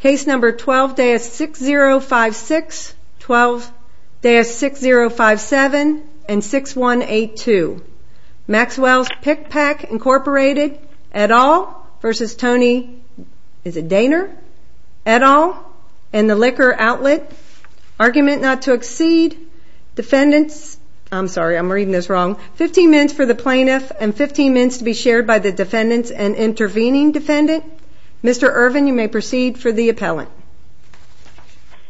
Case No. 12-6056, 12-6057, and 6182 Maxwells Pic Pac, Inc. et al. v. Tony Dehner et al. and the Liquor Outlet Argument Not to Exceed Defendants I'm sorry, I'm reading this wrong 15 minutes for the Plaintiff and 15 minutes to be shared by the Defendants and Intervening Defendant Mr. Irvin, you may proceed for the Appellant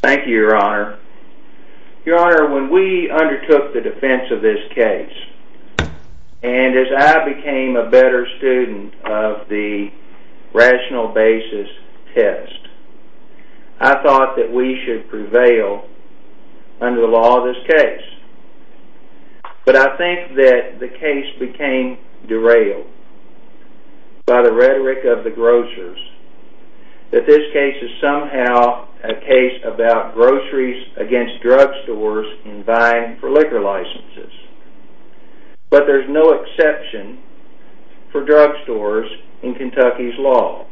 Thank you, Your Honor Your Honor, when we undertook the defense of this case and as I became a better student of the rational basis test I thought that we should prevail under the law of this case but I think that the case became derailed by the rhetoric of the grocers that this case is somehow a case about groceries against drugstores in buying for liquor licenses but there's no exception for drugstores in Kentucky's law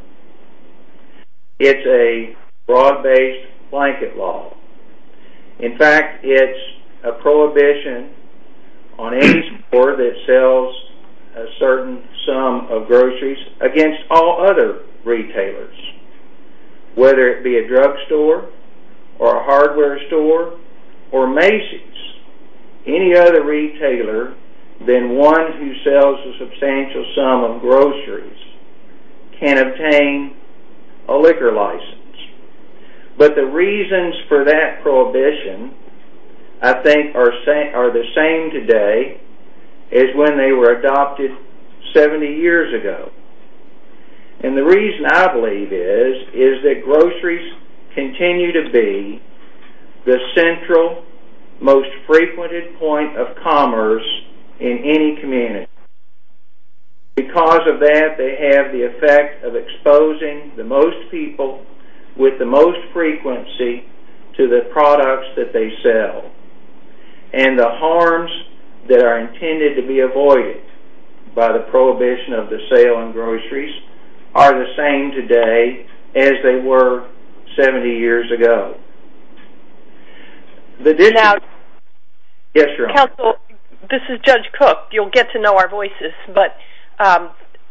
It's a fraud-based blanket law In fact, it's a prohibition on any store that sells a certain sum of groceries against all other retailers whether it be a drugstore or a hardware store or Macy's any other retailer than one who sells a substantial sum of groceries can obtain a liquor license but the reasons for that prohibition I think are the same today as when they were adopted 70 years ago and the reason I believe is is that groceries continue to be the central, most frequented point of commerce in any community Because of that, they have the effect of exposing the most people with the most frequency to the products that they sell and the harms that are intended to be avoided by the prohibition of the sale of groceries are the same today as they were 70 years ago Now, Counsel, this is Judge Cook You'll get to know our voices but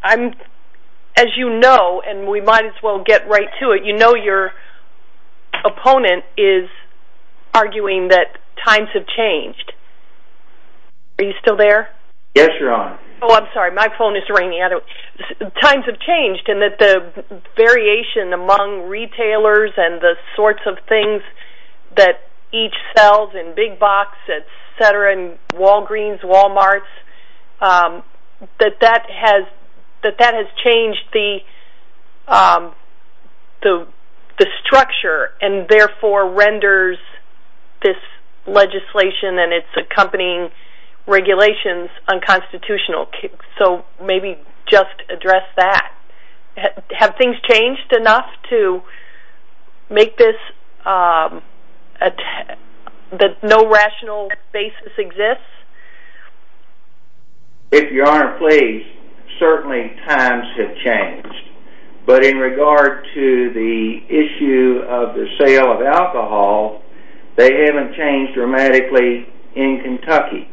as you know, and we might as well get right to it you know your opponent is arguing that times have changed Are you still there? Yes, Your Honor Oh, I'm sorry, my phone is ringing Times have changed and that the variation among retailers and the sorts of things that each sells in Big Box, etc. and Walgreens, Walmarts that that has changed the structure and therefore renders this legislation and its accompanying regulations unconstitutional so maybe just address that Have things changed enough to make this that no rational basis exists? If Your Honor please, certainly times have changed but in regard to the issue of the sale of alcohol they haven't changed dramatically in Kentucky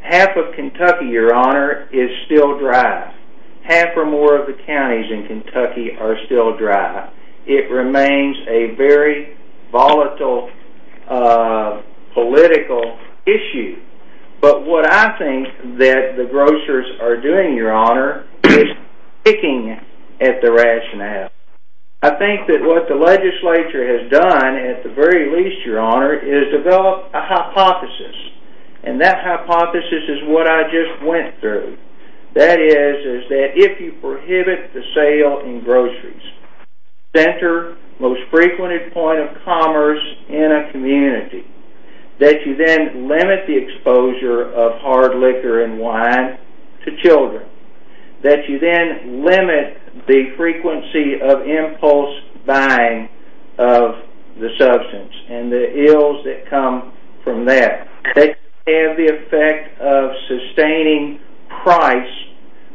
Half of Kentucky, Your Honor, is still dry Half or more of the counties in Kentucky are still dry It remains a very volatile political issue but what I think that the grocers are doing, Your Honor is sticking at the rationale I think that what the legislature has done at the very least, Your Honor is develop a hypothesis and that hypothesis is what I just went through that is, is that if you prohibit the sale in groceries center most frequented point of commerce in a community that you then limit the exposure of hard liquor and wine to children that you then limit the frequency of impulse buying of the substance and the ills that come from that They have the effect of sustaining price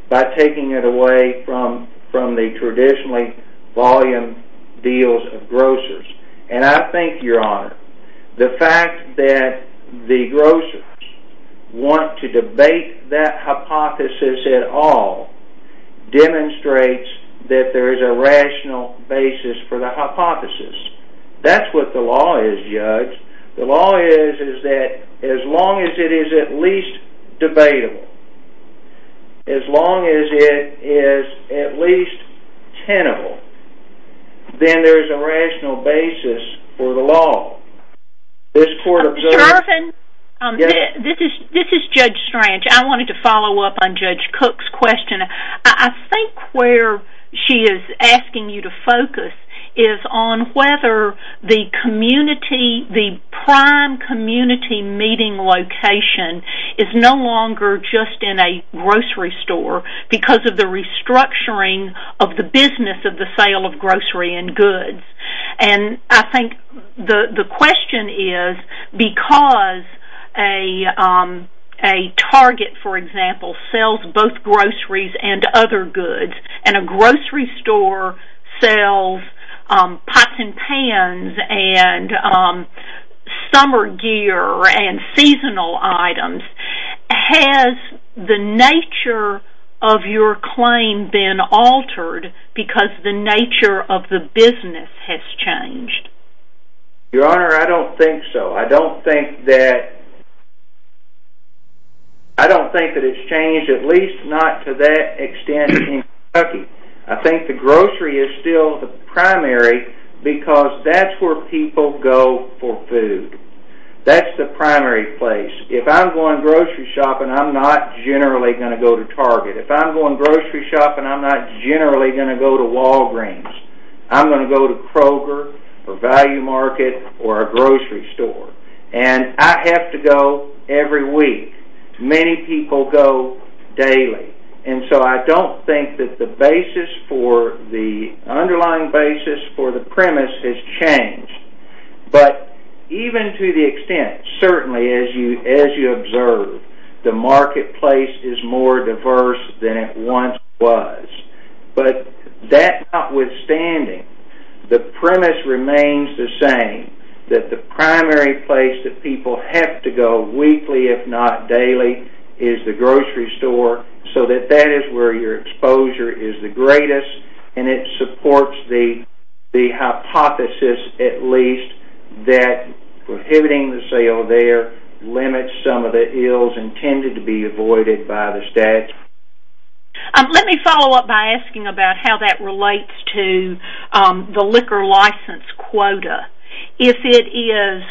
by taking it away from the traditionally volume deals of grocers and I think, Your Honor, the fact that the grocers want to debate that hypothesis at all demonstrates that there is a rational basis for the hypothesis That's what the law is, Judge The law is, is that as long as it is at least debatable as long as it is at least tenable then there is a rational basis for the law This court observes... Mr. Irvin, this is Judge Strange I wanted to follow up on Judge Cook's question I think where she is asking you to focus is on whether the community, the prime community meeting location is no longer just in a grocery store because of the restructuring of the business of the sale of grocery and goods and I think the question is because a target, for example, sells both groceries and other goods and a grocery store sells pots and pans and summer gear and seasonal items Has the nature of your claim been altered because the nature of the business has changed? Your Honor, I don't think so I don't think that it's changed at least not to that extent in Kentucky I think the grocery is still the primary because that's where people go for food That's the primary place If I'm going grocery shopping, I'm not generally going to go to Target If I'm going grocery shopping, I'm not generally going to go to Walgreens I'm going to go to Kroger or Value Market or a grocery store and I have to go every week Many people go daily and so I don't think that the underlying basis for the premise has changed but even to the extent, certainly as you observe the marketplace is more diverse than it once was but that notwithstanding, the premise remains the same that the primary place that people have to go weekly if not daily is the grocery store so that that is where your exposure is the greatest and it supports the hypothesis at least that prohibiting the sale there limits some of the ills intended to be avoided by the statute Let me follow up by asking about how that relates to the liquor license quota If the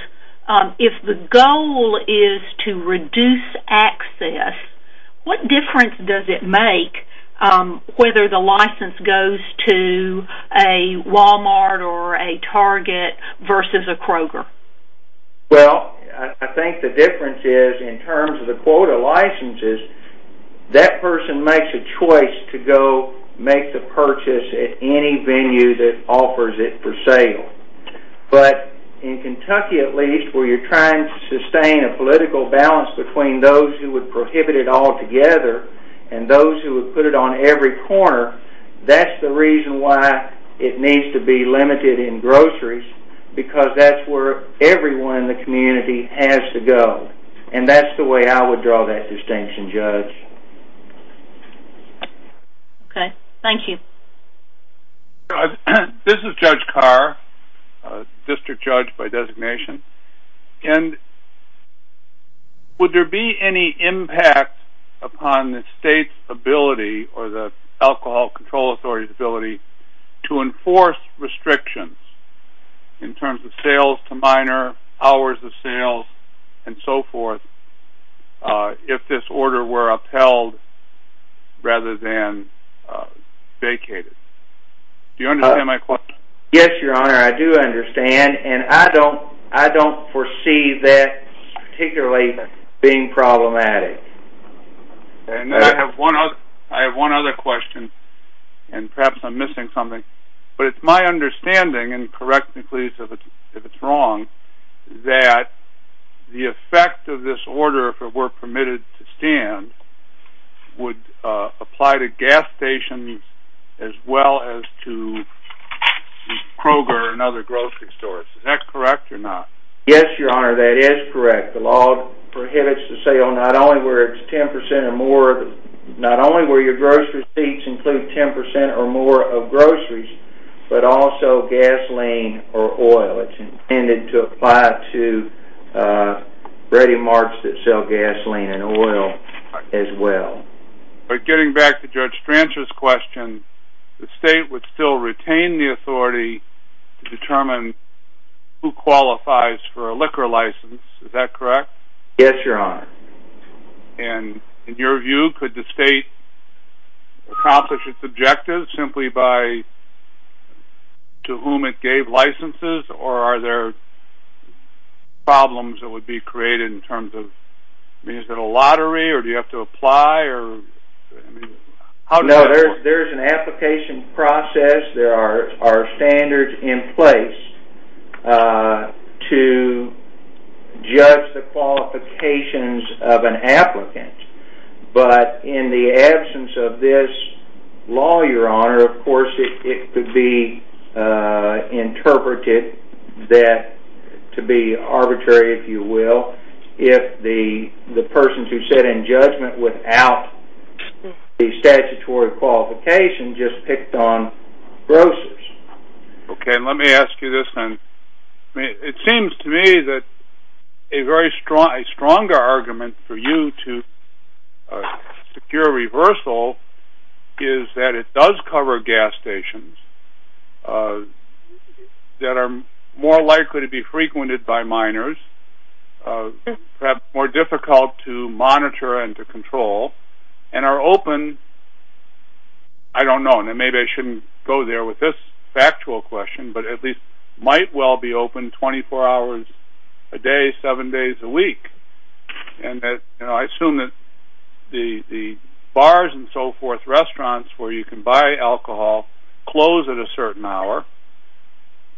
goal is to reduce access what difference does it make whether the license goes to a Walmart or a Target versus a Kroger? Well, I think the difference is in terms of the quota licenses that person makes a choice to go make the purchase at any venue that offers it for sale but in Kentucky at least where you're trying to sustain a political balance between those who would prohibit it altogether and those who would put it on every corner that's the reason why it needs to be limited in groceries because that's where everyone in the community has to go and that's the way I would draw that distinction, Judge Okay, thank you This is Judge Carr, District Judge by designation and would there be any impact upon the state's ability or the Alcohol Control Authority's ability to enforce restrictions in terms of sales to minor hours of sales and so forth if this order were upheld rather than vacated? Do you understand my question? Yes, Your Honor, I do understand and I don't foresee that particularly being problematic I have one other question and perhaps I'm missing something but it's my understanding, and correct me please if it's wrong that the effect of this order, if it were permitted to stand would apply to gas stations as well as to Kroger and other grocery stores Is that correct or not? Yes, Your Honor, that is correct The law prohibits the sale not only where it's 10% or more but also gasoline or oil It's intended to apply to ready marts that sell gasoline and oil as well But getting back to Judge Strancher's question the state would still retain the authority to determine who qualifies for a liquor license, is that correct? Yes, Your Honor And in your view, could the state accomplish its objective simply by to whom it gave licenses or are there problems that would be created in terms of is it a lottery or do you have to apply? No, there's an application process There are standards in place to judge the qualifications of an applicant But in the absence of this law, Your Honor of course it could be interpreted to be arbitrary, if you will if the persons who sit in judgment without the statutory qualification just picked on grocers Okay, let me ask you this then It seems to me that a stronger argument for you to secure reversal is that it does cover gas stations that are more likely to be frequented by miners perhaps more difficult to monitor and to control and are open, I don't know maybe I shouldn't go there with this factual question but at least might well be open 24 hours a day, 7 days a week and I assume that the bars and so forth restaurants where you can buy alcohol close at a certain hour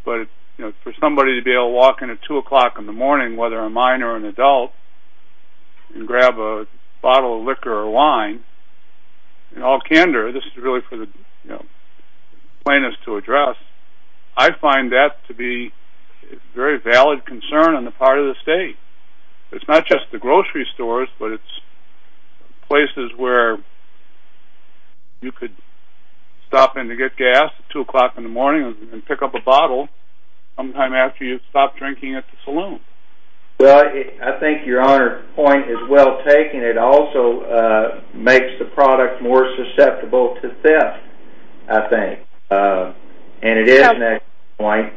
but for somebody to be able to walk in at 2 o'clock in the morning whether a minor or an adult and grab a bottle of liquor or wine in all candor, this is really for the plaintiffs to address I find that to be a very valid concern on the part of the state It's not just the grocery stores but it's places where you could stop in to get gas at 2 o'clock in the morning and pick up a bottle sometime after you've stopped drinking at the saloon Well, I think Your Honor's point is well taken It also makes the product more susceptible to theft, I think and it is an excellent point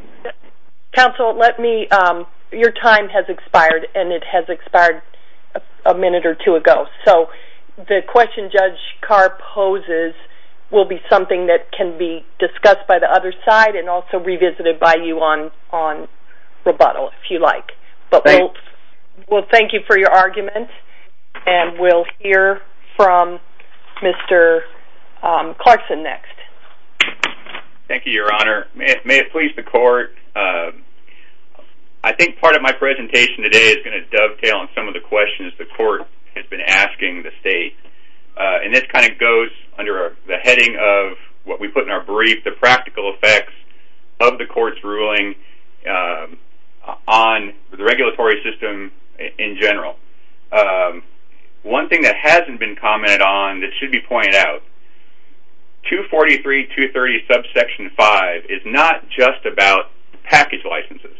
Counsel, your time has expired and it has expired a minute or two ago so the question Judge Carr poses will be something that can be discussed by the other side and also revisited by you on rebuttal, if you like Thank you We'll thank you for your argument and we'll hear from Mr. Clarkson next Thank you, Your Honor May it please the court I think part of my presentation today is going to dovetail on some of the questions the court has been asking the state and this kind of goes under the heading of what we put in our brief the practical effects of the court's ruling on the regulatory system in general One thing that hasn't been commented on that should be pointed out 243.230 subsection 5 is not just about package licenses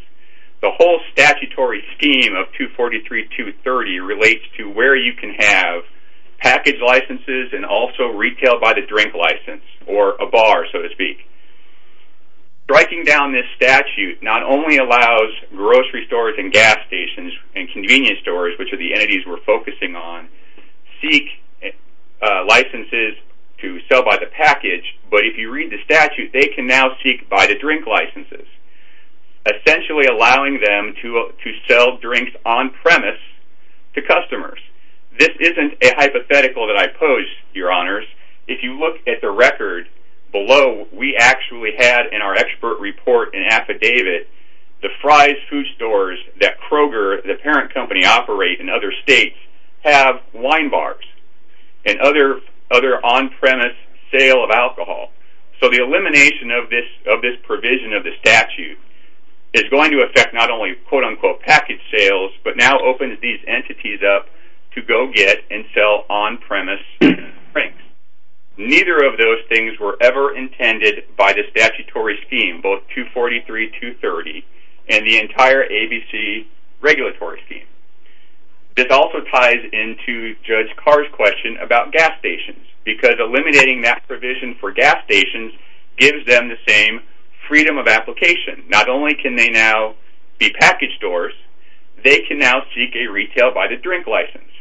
The whole statutory scheme of 243.230 relates to where you can have package licenses and also retail by the drink license or a bar, so to speak Striking down this statute not only allows grocery stores and gas stations and convenience stores which are the entities we're focusing on licenses to sell by the package but if you read the statute they can now seek by the drink licenses essentially allowing them to sell drinks on premise to customers This isn't a hypothetical that I pose, Your Honors If you look at the record below we actually had in our expert report an affidavit the Fry's food stores that Kroger the parent company operates in other states have wine bars and other on-premise sale of alcohol So the elimination of this provision of the statute is going to affect not only quote-unquote package sales but now opens these entities up to go get and sell on-premise drinks Neither of those things were ever intended by the statutory scheme both 243.230 and the entire ABC regulatory scheme This also ties into Judge Carr's question about gas stations because eliminating that provision for gas stations gives them the same freedom of application Not only can they now be package stores they can now seek a retail by the drink license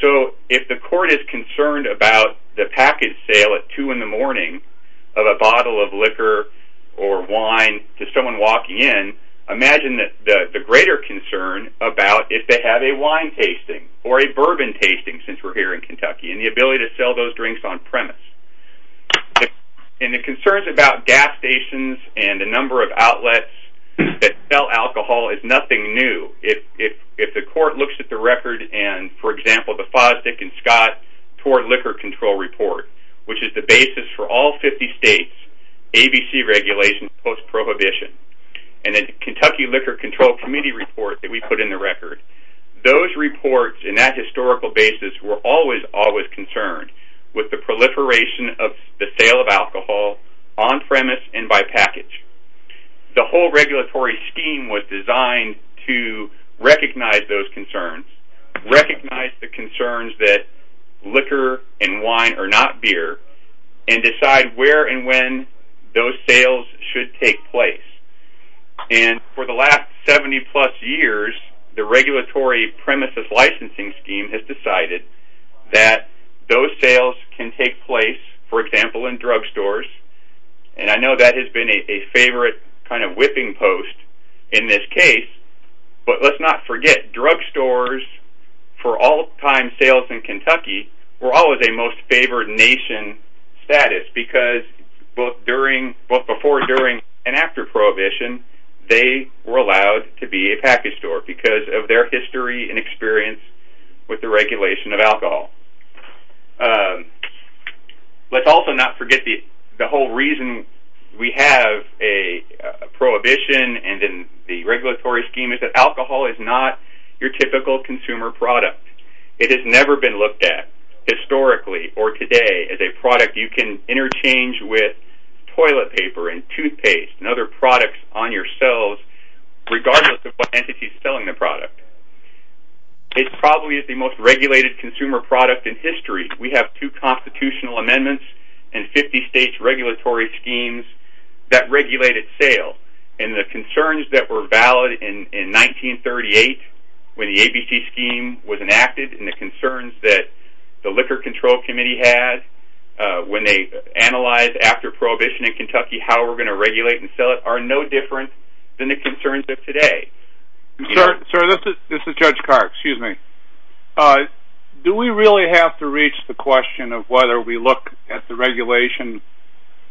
So if the court is concerned about the package sale at two in the morning of a bottle of liquor or wine to someone walking in imagine the greater concern about if they have a wine tasting or a bourbon tasting since we're here in Kentucky and the ability to sell those drinks on-premise And the concerns about gas stations and the number of outlets that sell alcohol is nothing new If the court looks at the record and for example the Fosdick and Scott toward liquor control report which is the basis for all 50 states ABC regulations post-prohibition and the Kentucky Liquor Control Committee report that we put in the record Those reports in that historical basis were always always concerned with the proliferation of the sale of alcohol on-premise and by package The whole regulatory scheme was designed to recognize those concerns recognize the concerns that liquor and wine are not beer and decide where and when those sales should take place And for the last 70 plus years the regulatory premises licensing scheme has decided that those sales can take place for example in drugstores and I know that has been a favorite kind of whipping post in this case but let's not forget drugstores for all time sales in Kentucky were always a most favored nation status because both before and after prohibition they were allowed to be a package store because of their history and experience with the regulation of alcohol Let's also not forget the whole reason we have a prohibition and the regulatory scheme is that alcohol is not your typical consumer product It has never been looked at historically or today as a product you can interchange with toilet paper and toothpaste and other products on your shelves regardless of what entity is selling the product It probably is the most regulated consumer product in history We have two constitutional amendments and 50 state regulatory schemes that regulate its sale and the concerns that were valid in 1938 when the ABC scheme was enacted and the concerns that the Liquor Control Committee had when they analyzed after prohibition in Kentucky how we're going to regulate and sell it are no different than the concerns of today Sir, this is Judge Carr, excuse me Do we really have to reach the question of whether we look at the regulation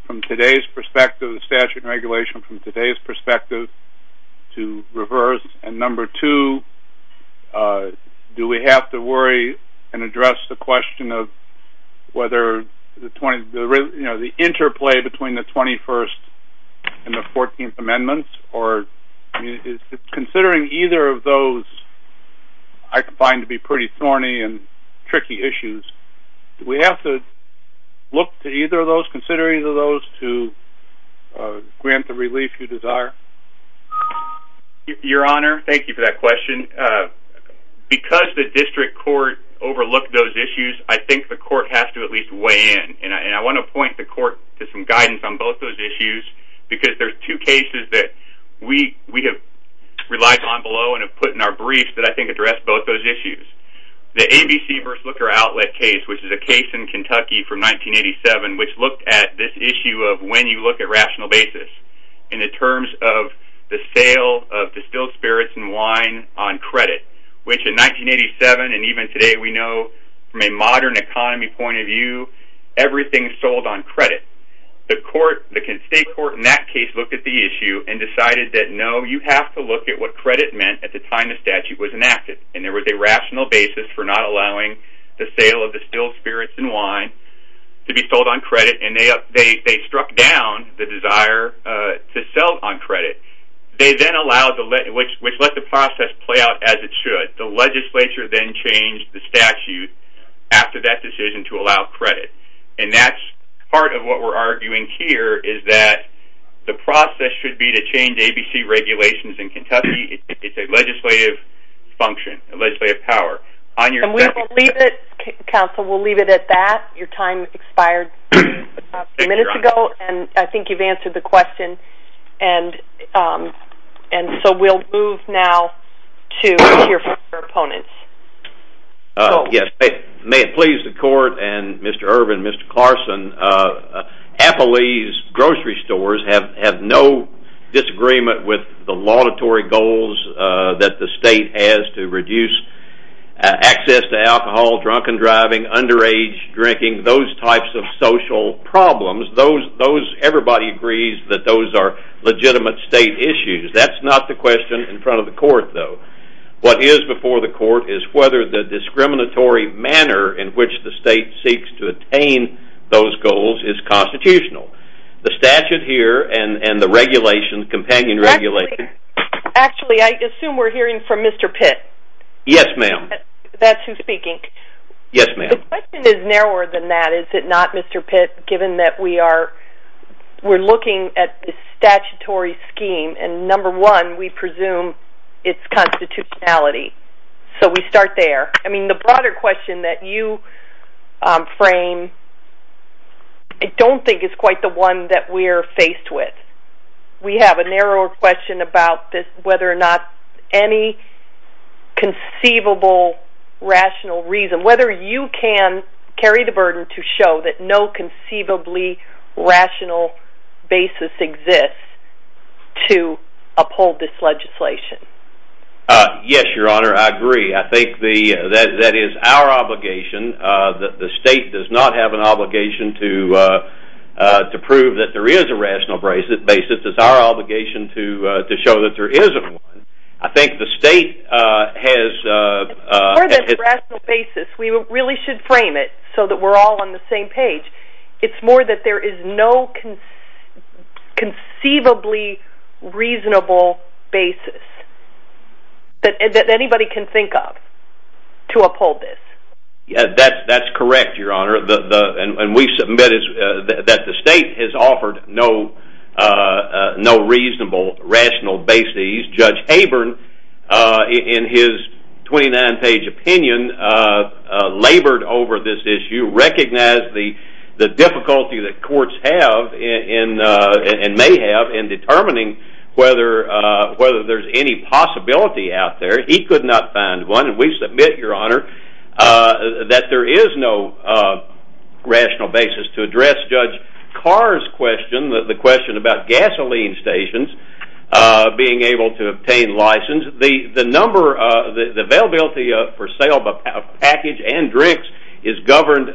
from today's perspective the statute and regulation from today's perspective to reverse and number two do we have to worry and address the question of whether the interplay between the 21st and the 14th amendments or is considering either of those I find to be pretty thorny and tricky issues do we have to look to either of those consider either of those to grant the relief you desire Your Honor, thank you for that question because the district court overlooked those issues I think the court has to at least weigh in and I want to point the court to some guidance on both those issues because there's two cases that we have relied on below and have put in our briefs that I think address both those issues the ABC vs. Liquor Outlet case which is a case in Kentucky from 1987 which looked at this issue of when you look at rational basis in the terms of the sale of distilled spirits and wine on credit which in 1987 and even today we know from a modern economy point of view everything is sold on credit the state court in that case looked at the issue and decided that no you have to look at what credit meant at the time the statute was enacted and there was a rational basis for not allowing the sale of distilled spirits and wine to be sold on credit and they struck down the desire to sell on credit they then allowed which let the process play out as it should the legislature then changed the statute after that decision to allow credit and that's part of what we're arguing here is that the process should be to change ABC regulations in Kentucky it's a legislative function a legislative power and we will leave it counsel we'll leave it at that your time expired a few minutes ago and I think you've answered the question and so we'll move now to hear from your opponents may it please the court and Mr. Irvin, Mr. Carson Applebee's grocery stores have no disagreement with the laudatory goals that the state has to reduce access to alcohol, drunken driving underage drinking those types of social problems everybody agrees that those are legitimate state issues that's not the question in front of the court though what is before the court is whether the discriminatory manner in which the state seeks to attain those goals is constitutional the statute here and the regulation companion regulation actually I assume we're hearing from Mr. Pitt that's who's speaking yes ma'am the question is narrower than that is it not Mr. Pitt given that we are we're looking at the statutory scheme and number one we presume it's constitutionality so we start there I mean the broader question that you frame I don't think it's quite the one that we're faced with we have a narrower question about whether or not any conceivable rational reason whether you can carry the burden to show that no conceivably rational basis exists to uphold this legislation yes your honor I agree I think that is our obligation the state does not have an obligation to prove that there is a rational basis it's our obligation to show that there is one I think the state has for this rational basis we really should frame it so that we're all on the same page it's more that there is no conceivably reasonable basis that anybody can think of to uphold this that's correct your honor and we submit that the state has offered no no reasonable rational basis Judge Haburn in his 29 page opinion labored over this issue recognized the difficulty that courts have and may have in determining whether there is any possibility out there he could not find one and we submit your honor that there is no rational basis to address Judge Carr's question the question about gasoline stations being able to obtain license the number the availability for sale of package and drinks is governed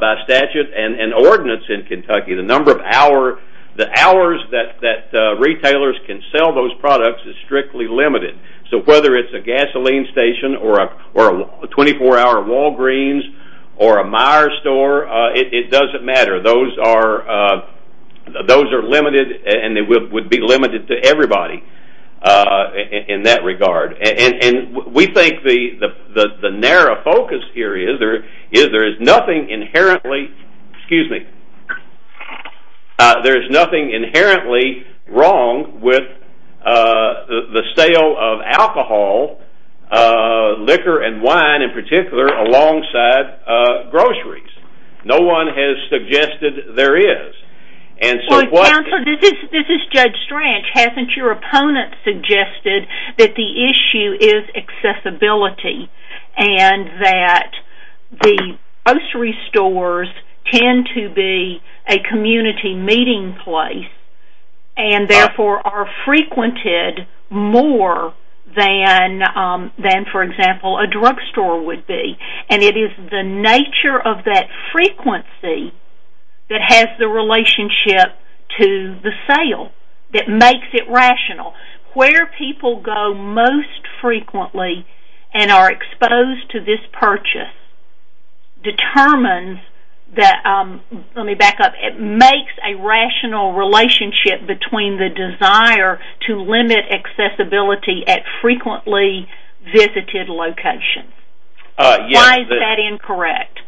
by statute and ordinance in Kentucky the number of hours that retailers can sell those products is strictly limited so whether it's a gasoline station or a 24 hour Walgreens or a Meijer store it doesn't matter those are limited and would be limited to everybody in that regard and we think the narrow focus here is there is nothing inherently excuse me there is nothing inherently wrong with the sale of alcohol liquor and wine in particular alongside groceries no one has suggested there is and so what Counselor, this is Judge Strach hasn't your opponent suggested that the issue is accessibility and that the grocery stores tend to be a community meeting place and therefore are frequented more than for example a drug store would be and it is the nature of that frequency that has the relationship to the sale that makes it rational where people go most frequently and are exposed to this purchase determines that, let me back up it makes a rational relationship between the desire to limit accessibility at frequently visited locations why is that incorrect?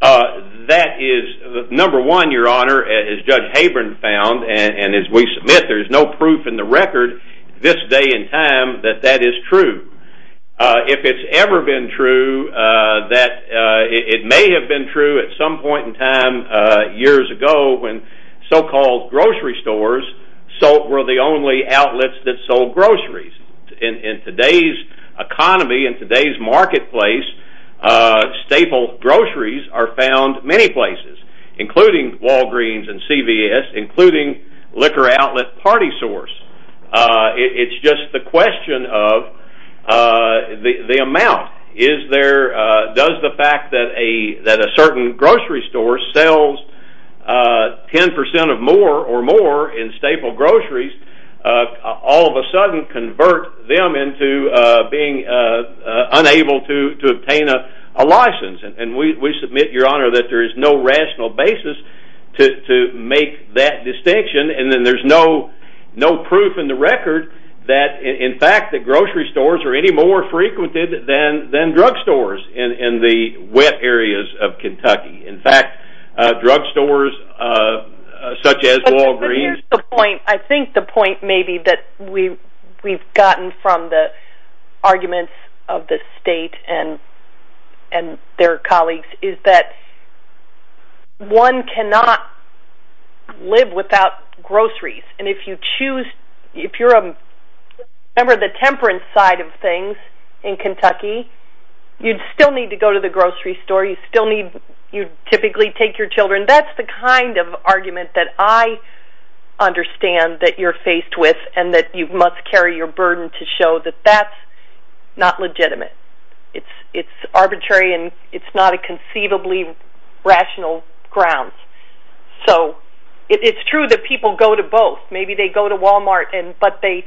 that is number one your honor as Judge Habron found and as we submit there is no proof in the record this day and time that that is true if it has ever been true that it may have been true at some point in time years ago when so called grocery stores were the only outlets that sold groceries in today's economy, in today's marketplace staple groceries are found many places including Walgreens and CVS including liquor outlet party source it's just the question of the amount is there, does the fact that a certain grocery store sells 10% of more or more in staple groceries all of a sudden convert them into being unable to obtain a license and we submit your honor that there is no rational basis to make that distinction and then there's no proof in the record that in fact that grocery stores are any more frequented than drug stores in the wet areas of Kentucky in fact drug stores such as Walgreens I think the point maybe that we've gotten from the arguments of the state and their colleagues is that one cannot live without groceries and if you choose, if you're a member of the temperance side of things in Kentucky you'd still need to go to the grocery store, you'd still need, you'd typically take your children, that's the kind of argument that I understand that you're faced with and that you must carry your burden to show that that's not legitimate. It's arbitrary and it's not a conceivably rational ground. So it's true that people go to both maybe they go to Walmart but they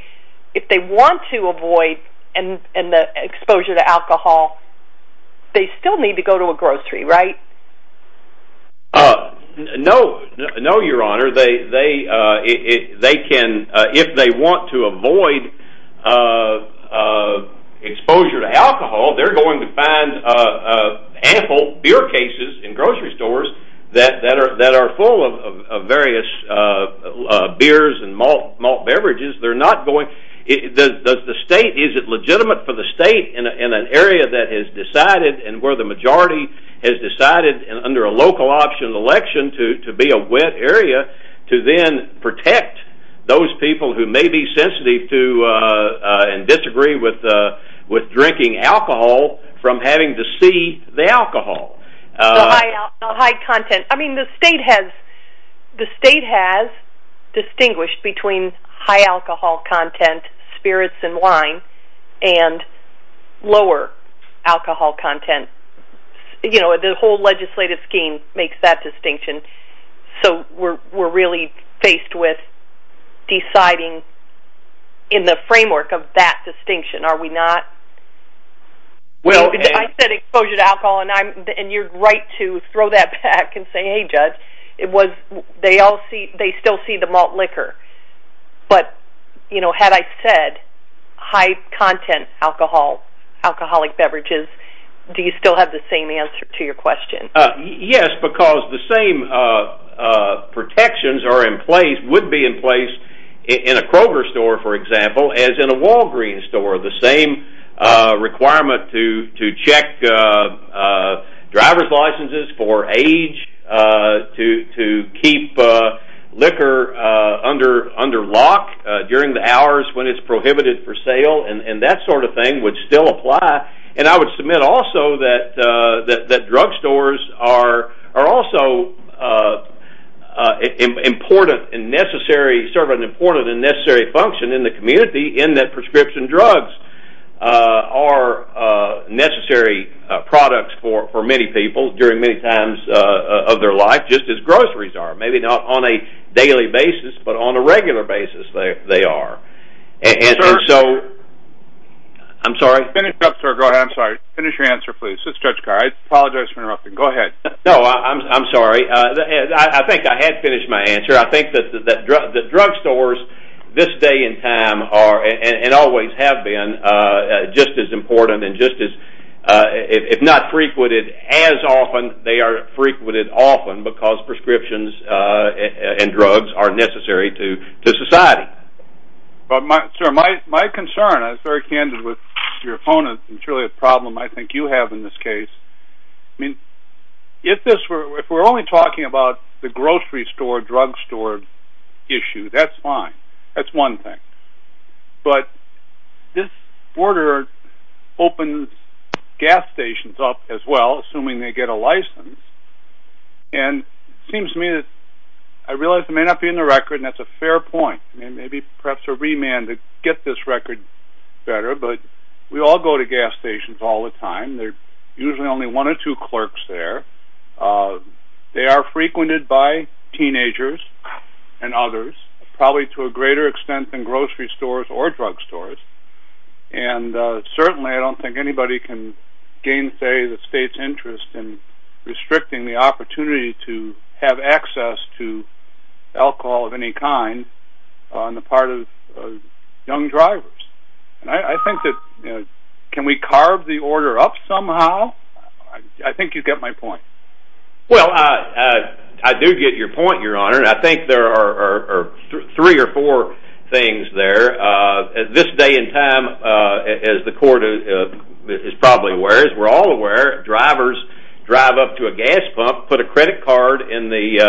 if they want to avoid and the exposure to alcohol they still need to go to a grocery, right? No no your honor they can if they want to avoid exposure to alcohol they're going to find ample beer cases in grocery stores that are full of various beers and malt beverages they're not going the state, is it legitimate for the state in an area that has decided and where the majority has decided under a local option election to be a wet area to then protect those people who may be sensitive to and disagree with drinking alcohol from having to see the alcohol The high content, I mean the state has the state has distinguished between high alcohol content, spirits and wine and lower alcohol content you know the whole legislative scheme makes that distinction so we're really faced with deciding in the framework of that distinction are we not I said exposure to alcohol and you're right to throw that back and say hey judge they still see the malt liquor but you know had I said high content alcohol alcoholic beverages do you still have the same answer to your question? Yes because the same protections are in place would be in place in a Kroger store for example as in a Walgreen store the same requirement to check driver's licenses for age to keep liquor under lock during the hours when it's prohibited for sale and that sort of thing would still apply and I would submit also that drug stores are also important and necessary serve an important and necessary function in the community in that prescription drugs are necessary products for many people during many times of their life just as groceries are maybe not on a daily basis but on a regular basis they are and so I'm sorry finish your answer please I apologize for interrupting I'm sorry I think I had finished my answer I think that drug stores this day and time always have been just as important if not frequented as often they are frequented often because prescriptions and drugs are necessary to society my concern I was very candid with your opponent it's really a problem I think you have in this case if we're only talking about the grocery store drug store issue that's fine that's one thing but this border opens gas stations up as well assuming they get a license and it seems to me that I realize it may not be in the record and that's a fair point maybe perhaps a remand to get this record better but we all go to gas stations all the time there's usually only one or two clerks there they are frequented by teenagers and others probably to a greater extent than grocery stores or drug stores and certainly I don't think anybody can gain say the state's interest in restricting the opportunity to have access to alcohol of any kind on the part of young drivers I think that can we carve the order up somehow I think you get my point I do get your point your honor I think there are three or four things there this day and time as the court is probably aware as we're all aware drivers drive up to a gas pump put a credit card in the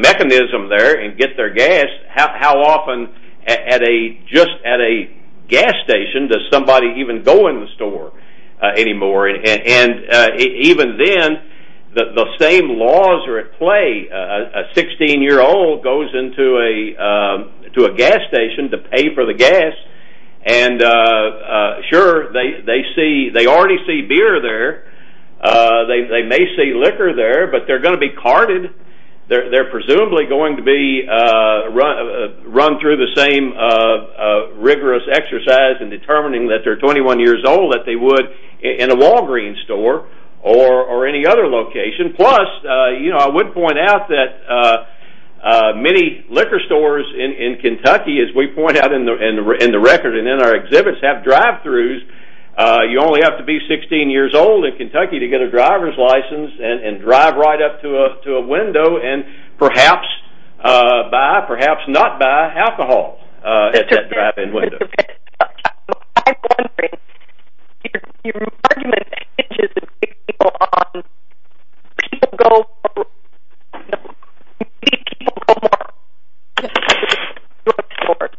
mechanism there and get their gas how often at a gas station does somebody even go in the store anymore and even then the same laws are at play a 16 year old goes into a gas station to pay for the gas and sure they already see beer there they may see liquor there but they're going to be carded they're presumably going to be run through the same rigorous exercise in determining that they're 21 years old that they would in a Walgreen's store or any other location plus I would point out that many liquor stores in the record and in our exhibits have drive throughs you only have to be 16 years old in Kentucky to get a driver's license and drive right up to a window and perhaps buy perhaps not buy alcohol at that drive in window I'm wondering your argument is that people people go people go more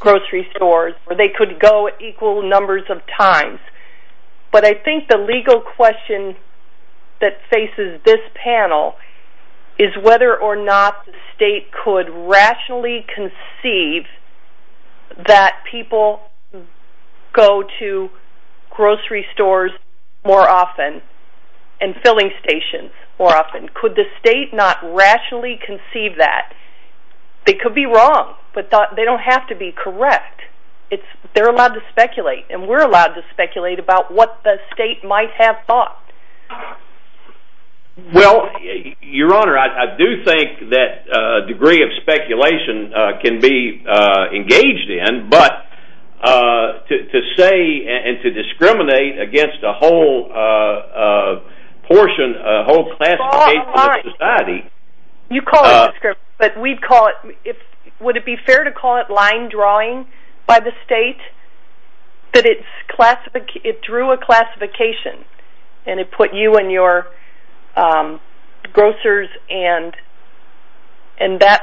grocery stores they could go equal numbers of times but I think the legal question that faces this panel is whether or not the state could rationally conceive that people go to grocery stores more often and filling stations more often could the state not rationally conceive that they could be wrong but they don't have to be correct they're allowed to speculate and we're allowed to speculate about what the state might have thought well your honor I do think that a degree of speculation can be engaged in but to say and to discriminate against a whole portion a whole classification of society you call it but we'd call it would it be fair to call it line drawing by the state that it's it drew a classification and it put you and your grocers and that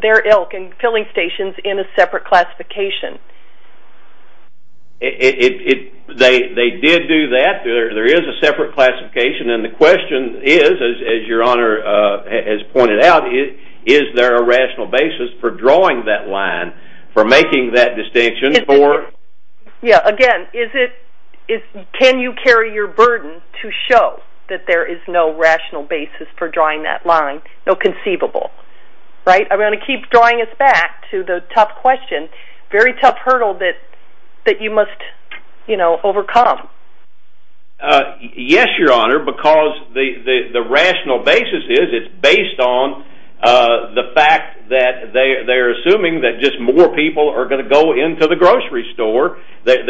their ilk and filling stations in a separate classification it they did do that there is a separate classification and the question is as your honor has pointed out is there a rational basis for drawing that line for making that distinction again is it can you carry your burden to show that there is no rational basis for drawing that line no conceivable I'm going to keep drawing us back to the tough question very tough hurdle that you must overcome yes your honor because the rational basis is it's based on the fact that they're assuming that just more people are going to go into the grocery store that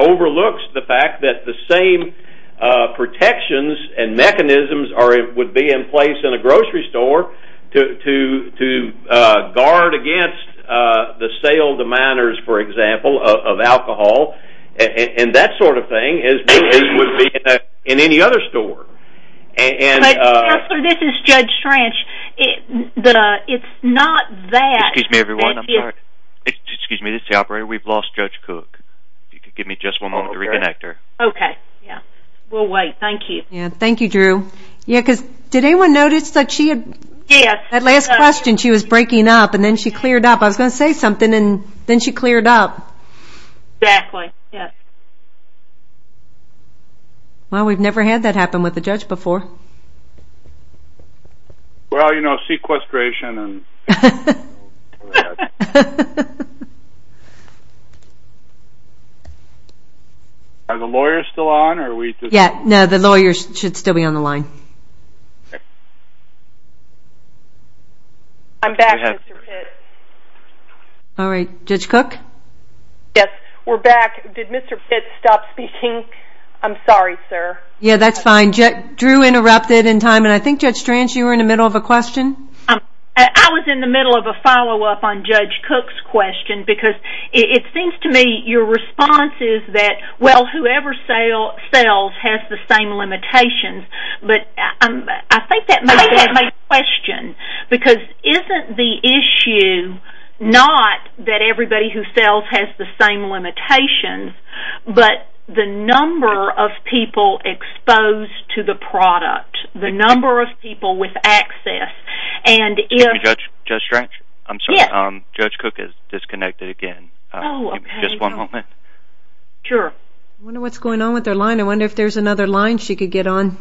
overlooks the fact that the same protections and mechanisms would be in place in a grocery store to guard against the sale of the minors for example of alcohol and that sort of thing would be in any other store this is judge trench it's not that excuse me everyone we've lost judge cook give me just one moment to reconnect her we'll wait thank you thank you drew did anyone notice that last question she was breaking up and then she cleared up I was going to say something and then she cleared up exactly well we've never had that happen with a judge before well you know sequestration are the lawyers still on no the lawyers should still be on the line I'm back all right judge cook yes we're back did mr. fitz stop speaking I'm sorry sir yeah that's fine drew interrupted in time and I think judge trench you were in the middle of a question I was in the middle of a follow up on judge cook's question because it seems to me your response is that well whoever sells has the same limitations but I think that may be a question because isn't the issue not that everybody who sells has the same limitations but the number of people exposed to the product the number of people with access and if judge trench I'm sorry judge cook has disconnected again just one moment sure I wonder what's going on I wonder if there's another line she could get on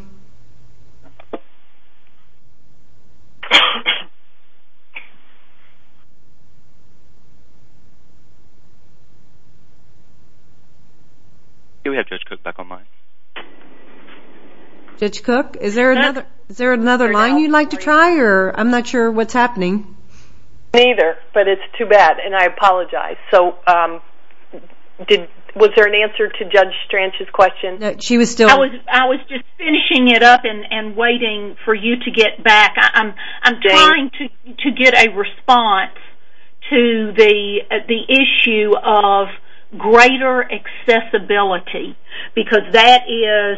here we have judge cook back on line judge cook is there another line you'd like to try or I'm not sure what's happening neither but it's too bad and I apologize so was there an answer to judge trench's question I was just finishing it up and waiting for you to get back I'm trying to get a response to the issue of greater accessibility because that is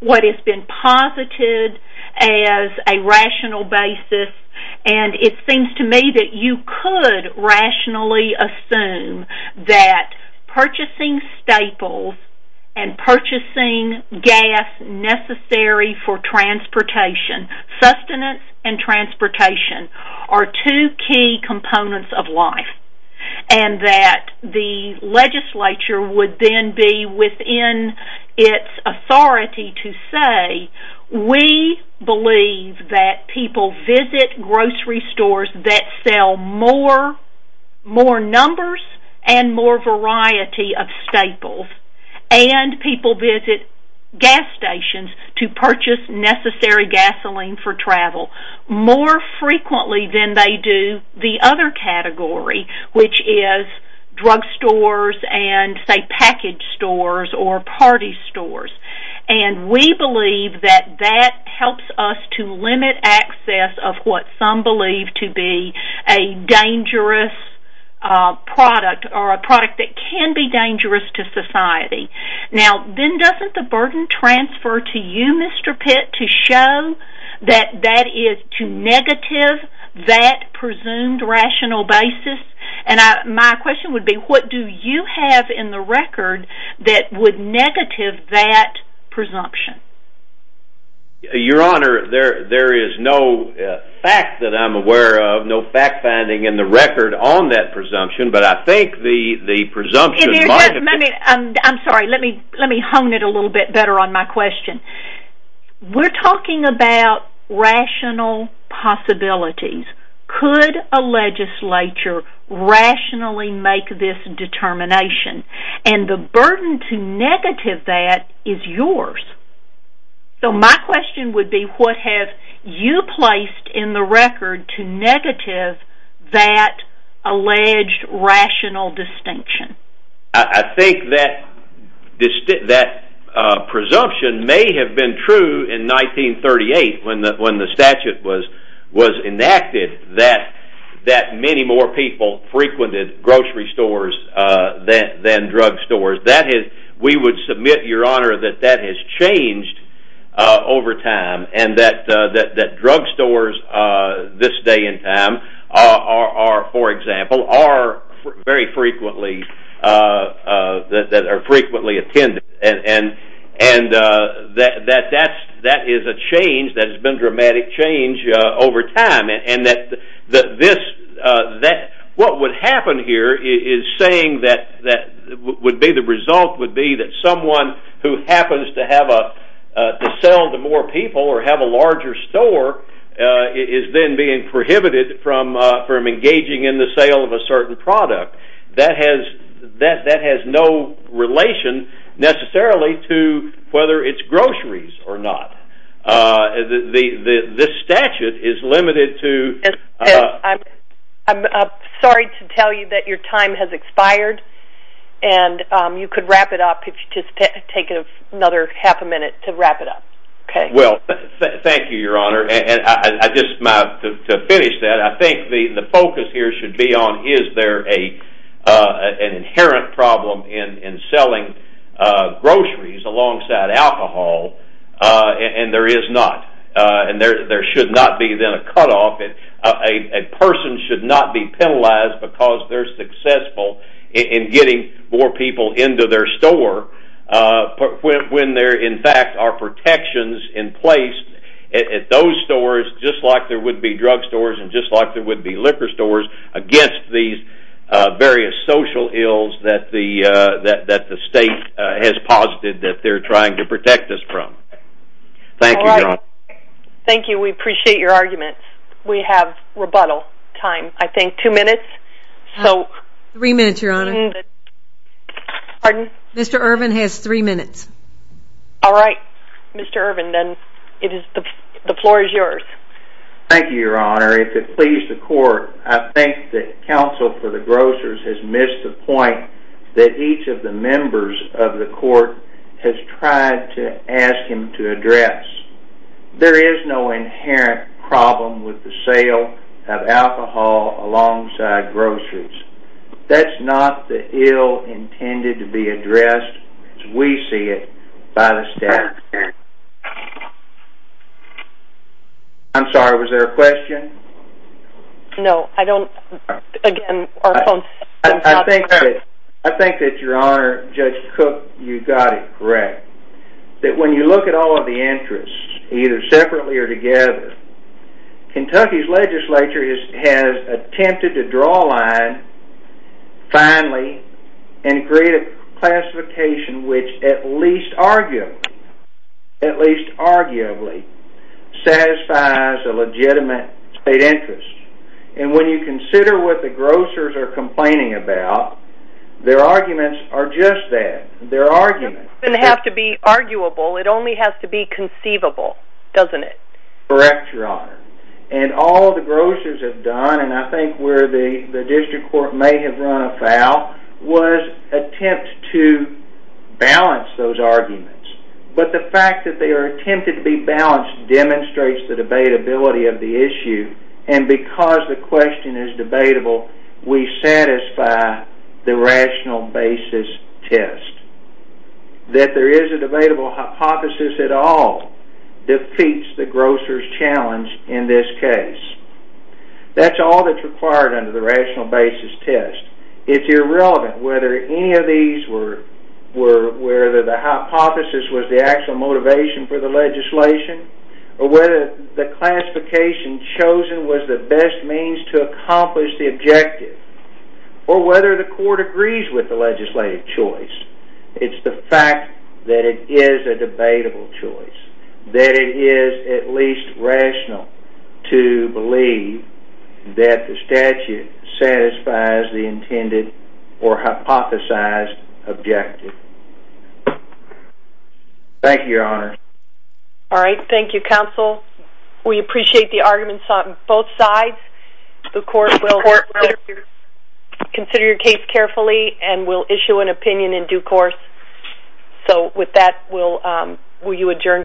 what has been posited as a rational basis and it seems to me that you could rationally assume that purchasing staples and purchasing gas necessary for transportation sustenance and transportation are two key components of life and that the legislature would then be within its authority to say we believe that people visit grocery stores that sell more numbers and more variety of staples and people visit gas stations to purchase necessary gasoline for travel more frequently than they do the other category which is drug stores and say package stores or party stores and we believe that that helps us to limit access of what some believe to be a dangerous product or a product that can be dangerous to society now then doesn't the burden transfer to you Mr. Pitt to show that that is to negative that presumed rational basis and my question would be what do you have in the record that would negative that presumption? Your Honor there is no fact that I'm aware of no fact finding in the record on that presumption but I think the presumption might have been I'm sorry let me hone it a little bit better on my question we're talking about rational possibilities could a legislature rationally make this determination and the burden to negative that is yours so my question would be what have you placed in the record to negative that alleged rational distinction? I think that presumption may have been true in 1938 when the statute was enacted that many more people frequented grocery stores than drug stores. We would submit Your Honor that that has changed over time and that drug stores this day and time are for example are very frequently that are frequently attended and that is a change that has been dramatic change over time and that this what would happen here is saying that the result would be that someone who happens to have a sell to more people or have a larger store is then being prohibited from engaging in the sale of a certain product. That has no relation necessarily to whether it's groceries or not this statute is limited to I'm sorry to tell you that your time has expired and you could wrap it up if you just take another half a minute to wrap it up. Thank you Your Honor and to finish that I think the focus here should be on is there an inherent problem in selling groceries alongside alcohol and there is not. There should not be then a cut off a person should not be penalized because they're successful in getting more people into their store when there in fact are protections in place at those stores just like there would be drug stores and just like there would be liquor stores against these various social ills that the state has posited that they're trying to protect us from. Thank you Your Honor. Thank you. We appreciate your argument. We have rebuttal time I think two minutes. Three minutes Your Honor. Mr. Irvin has three minutes. Alright Mr. Irvin then the floor is yours. Thank you Your Honor. If it please the court I think that counsel for the grocers has missed the point that each of the members of the court has tried to ask him to address. There is no inherent problem with the sale of alcohol alongside groceries. That's not the ill intended to be addressed as we see it by the staff. I'm sorry was there a question? No I don't again our phone. I think that Your Honor Judge Cook you got it correct that when you look at all of the interests either separately or together Kentucky's legislature has attempted to draw a line finally and create a classification which at least arguably at least arguably satisfies a legitimate state interest and when you consider what the grocers are complaining about their arguments are just that. Their argument doesn't have to be arguable it only has to be conceivable doesn't it? Correct Your Honor. And all the grocers have done and I think where the district court may have run afoul was attempt to balance those arguments but the fact that they are attempting to be balanced demonstrates the debatability of the issue and because the question is debatable we satisfy the rational basis test. That there is a debatable hypothesis at all defeats the grocers challenge in this case. That's all that's required under the rational basis test. It's irrelevant whether any of these were the hypothesis was the actual motivation for the legislation or whether the classification chosen was the best means to accomplish the objective or whether the court agrees with the legislative choice. It's the fact that it is a debatable choice. That it is at least rational to believe that the statute satisfies the intended or hypothesized objective. Thank you Your Honor. Alright thank you counsel. We appreciate the arguments on both sides. The court will consider your case carefully and will issue an opinion in due course. So with that will you adjourn?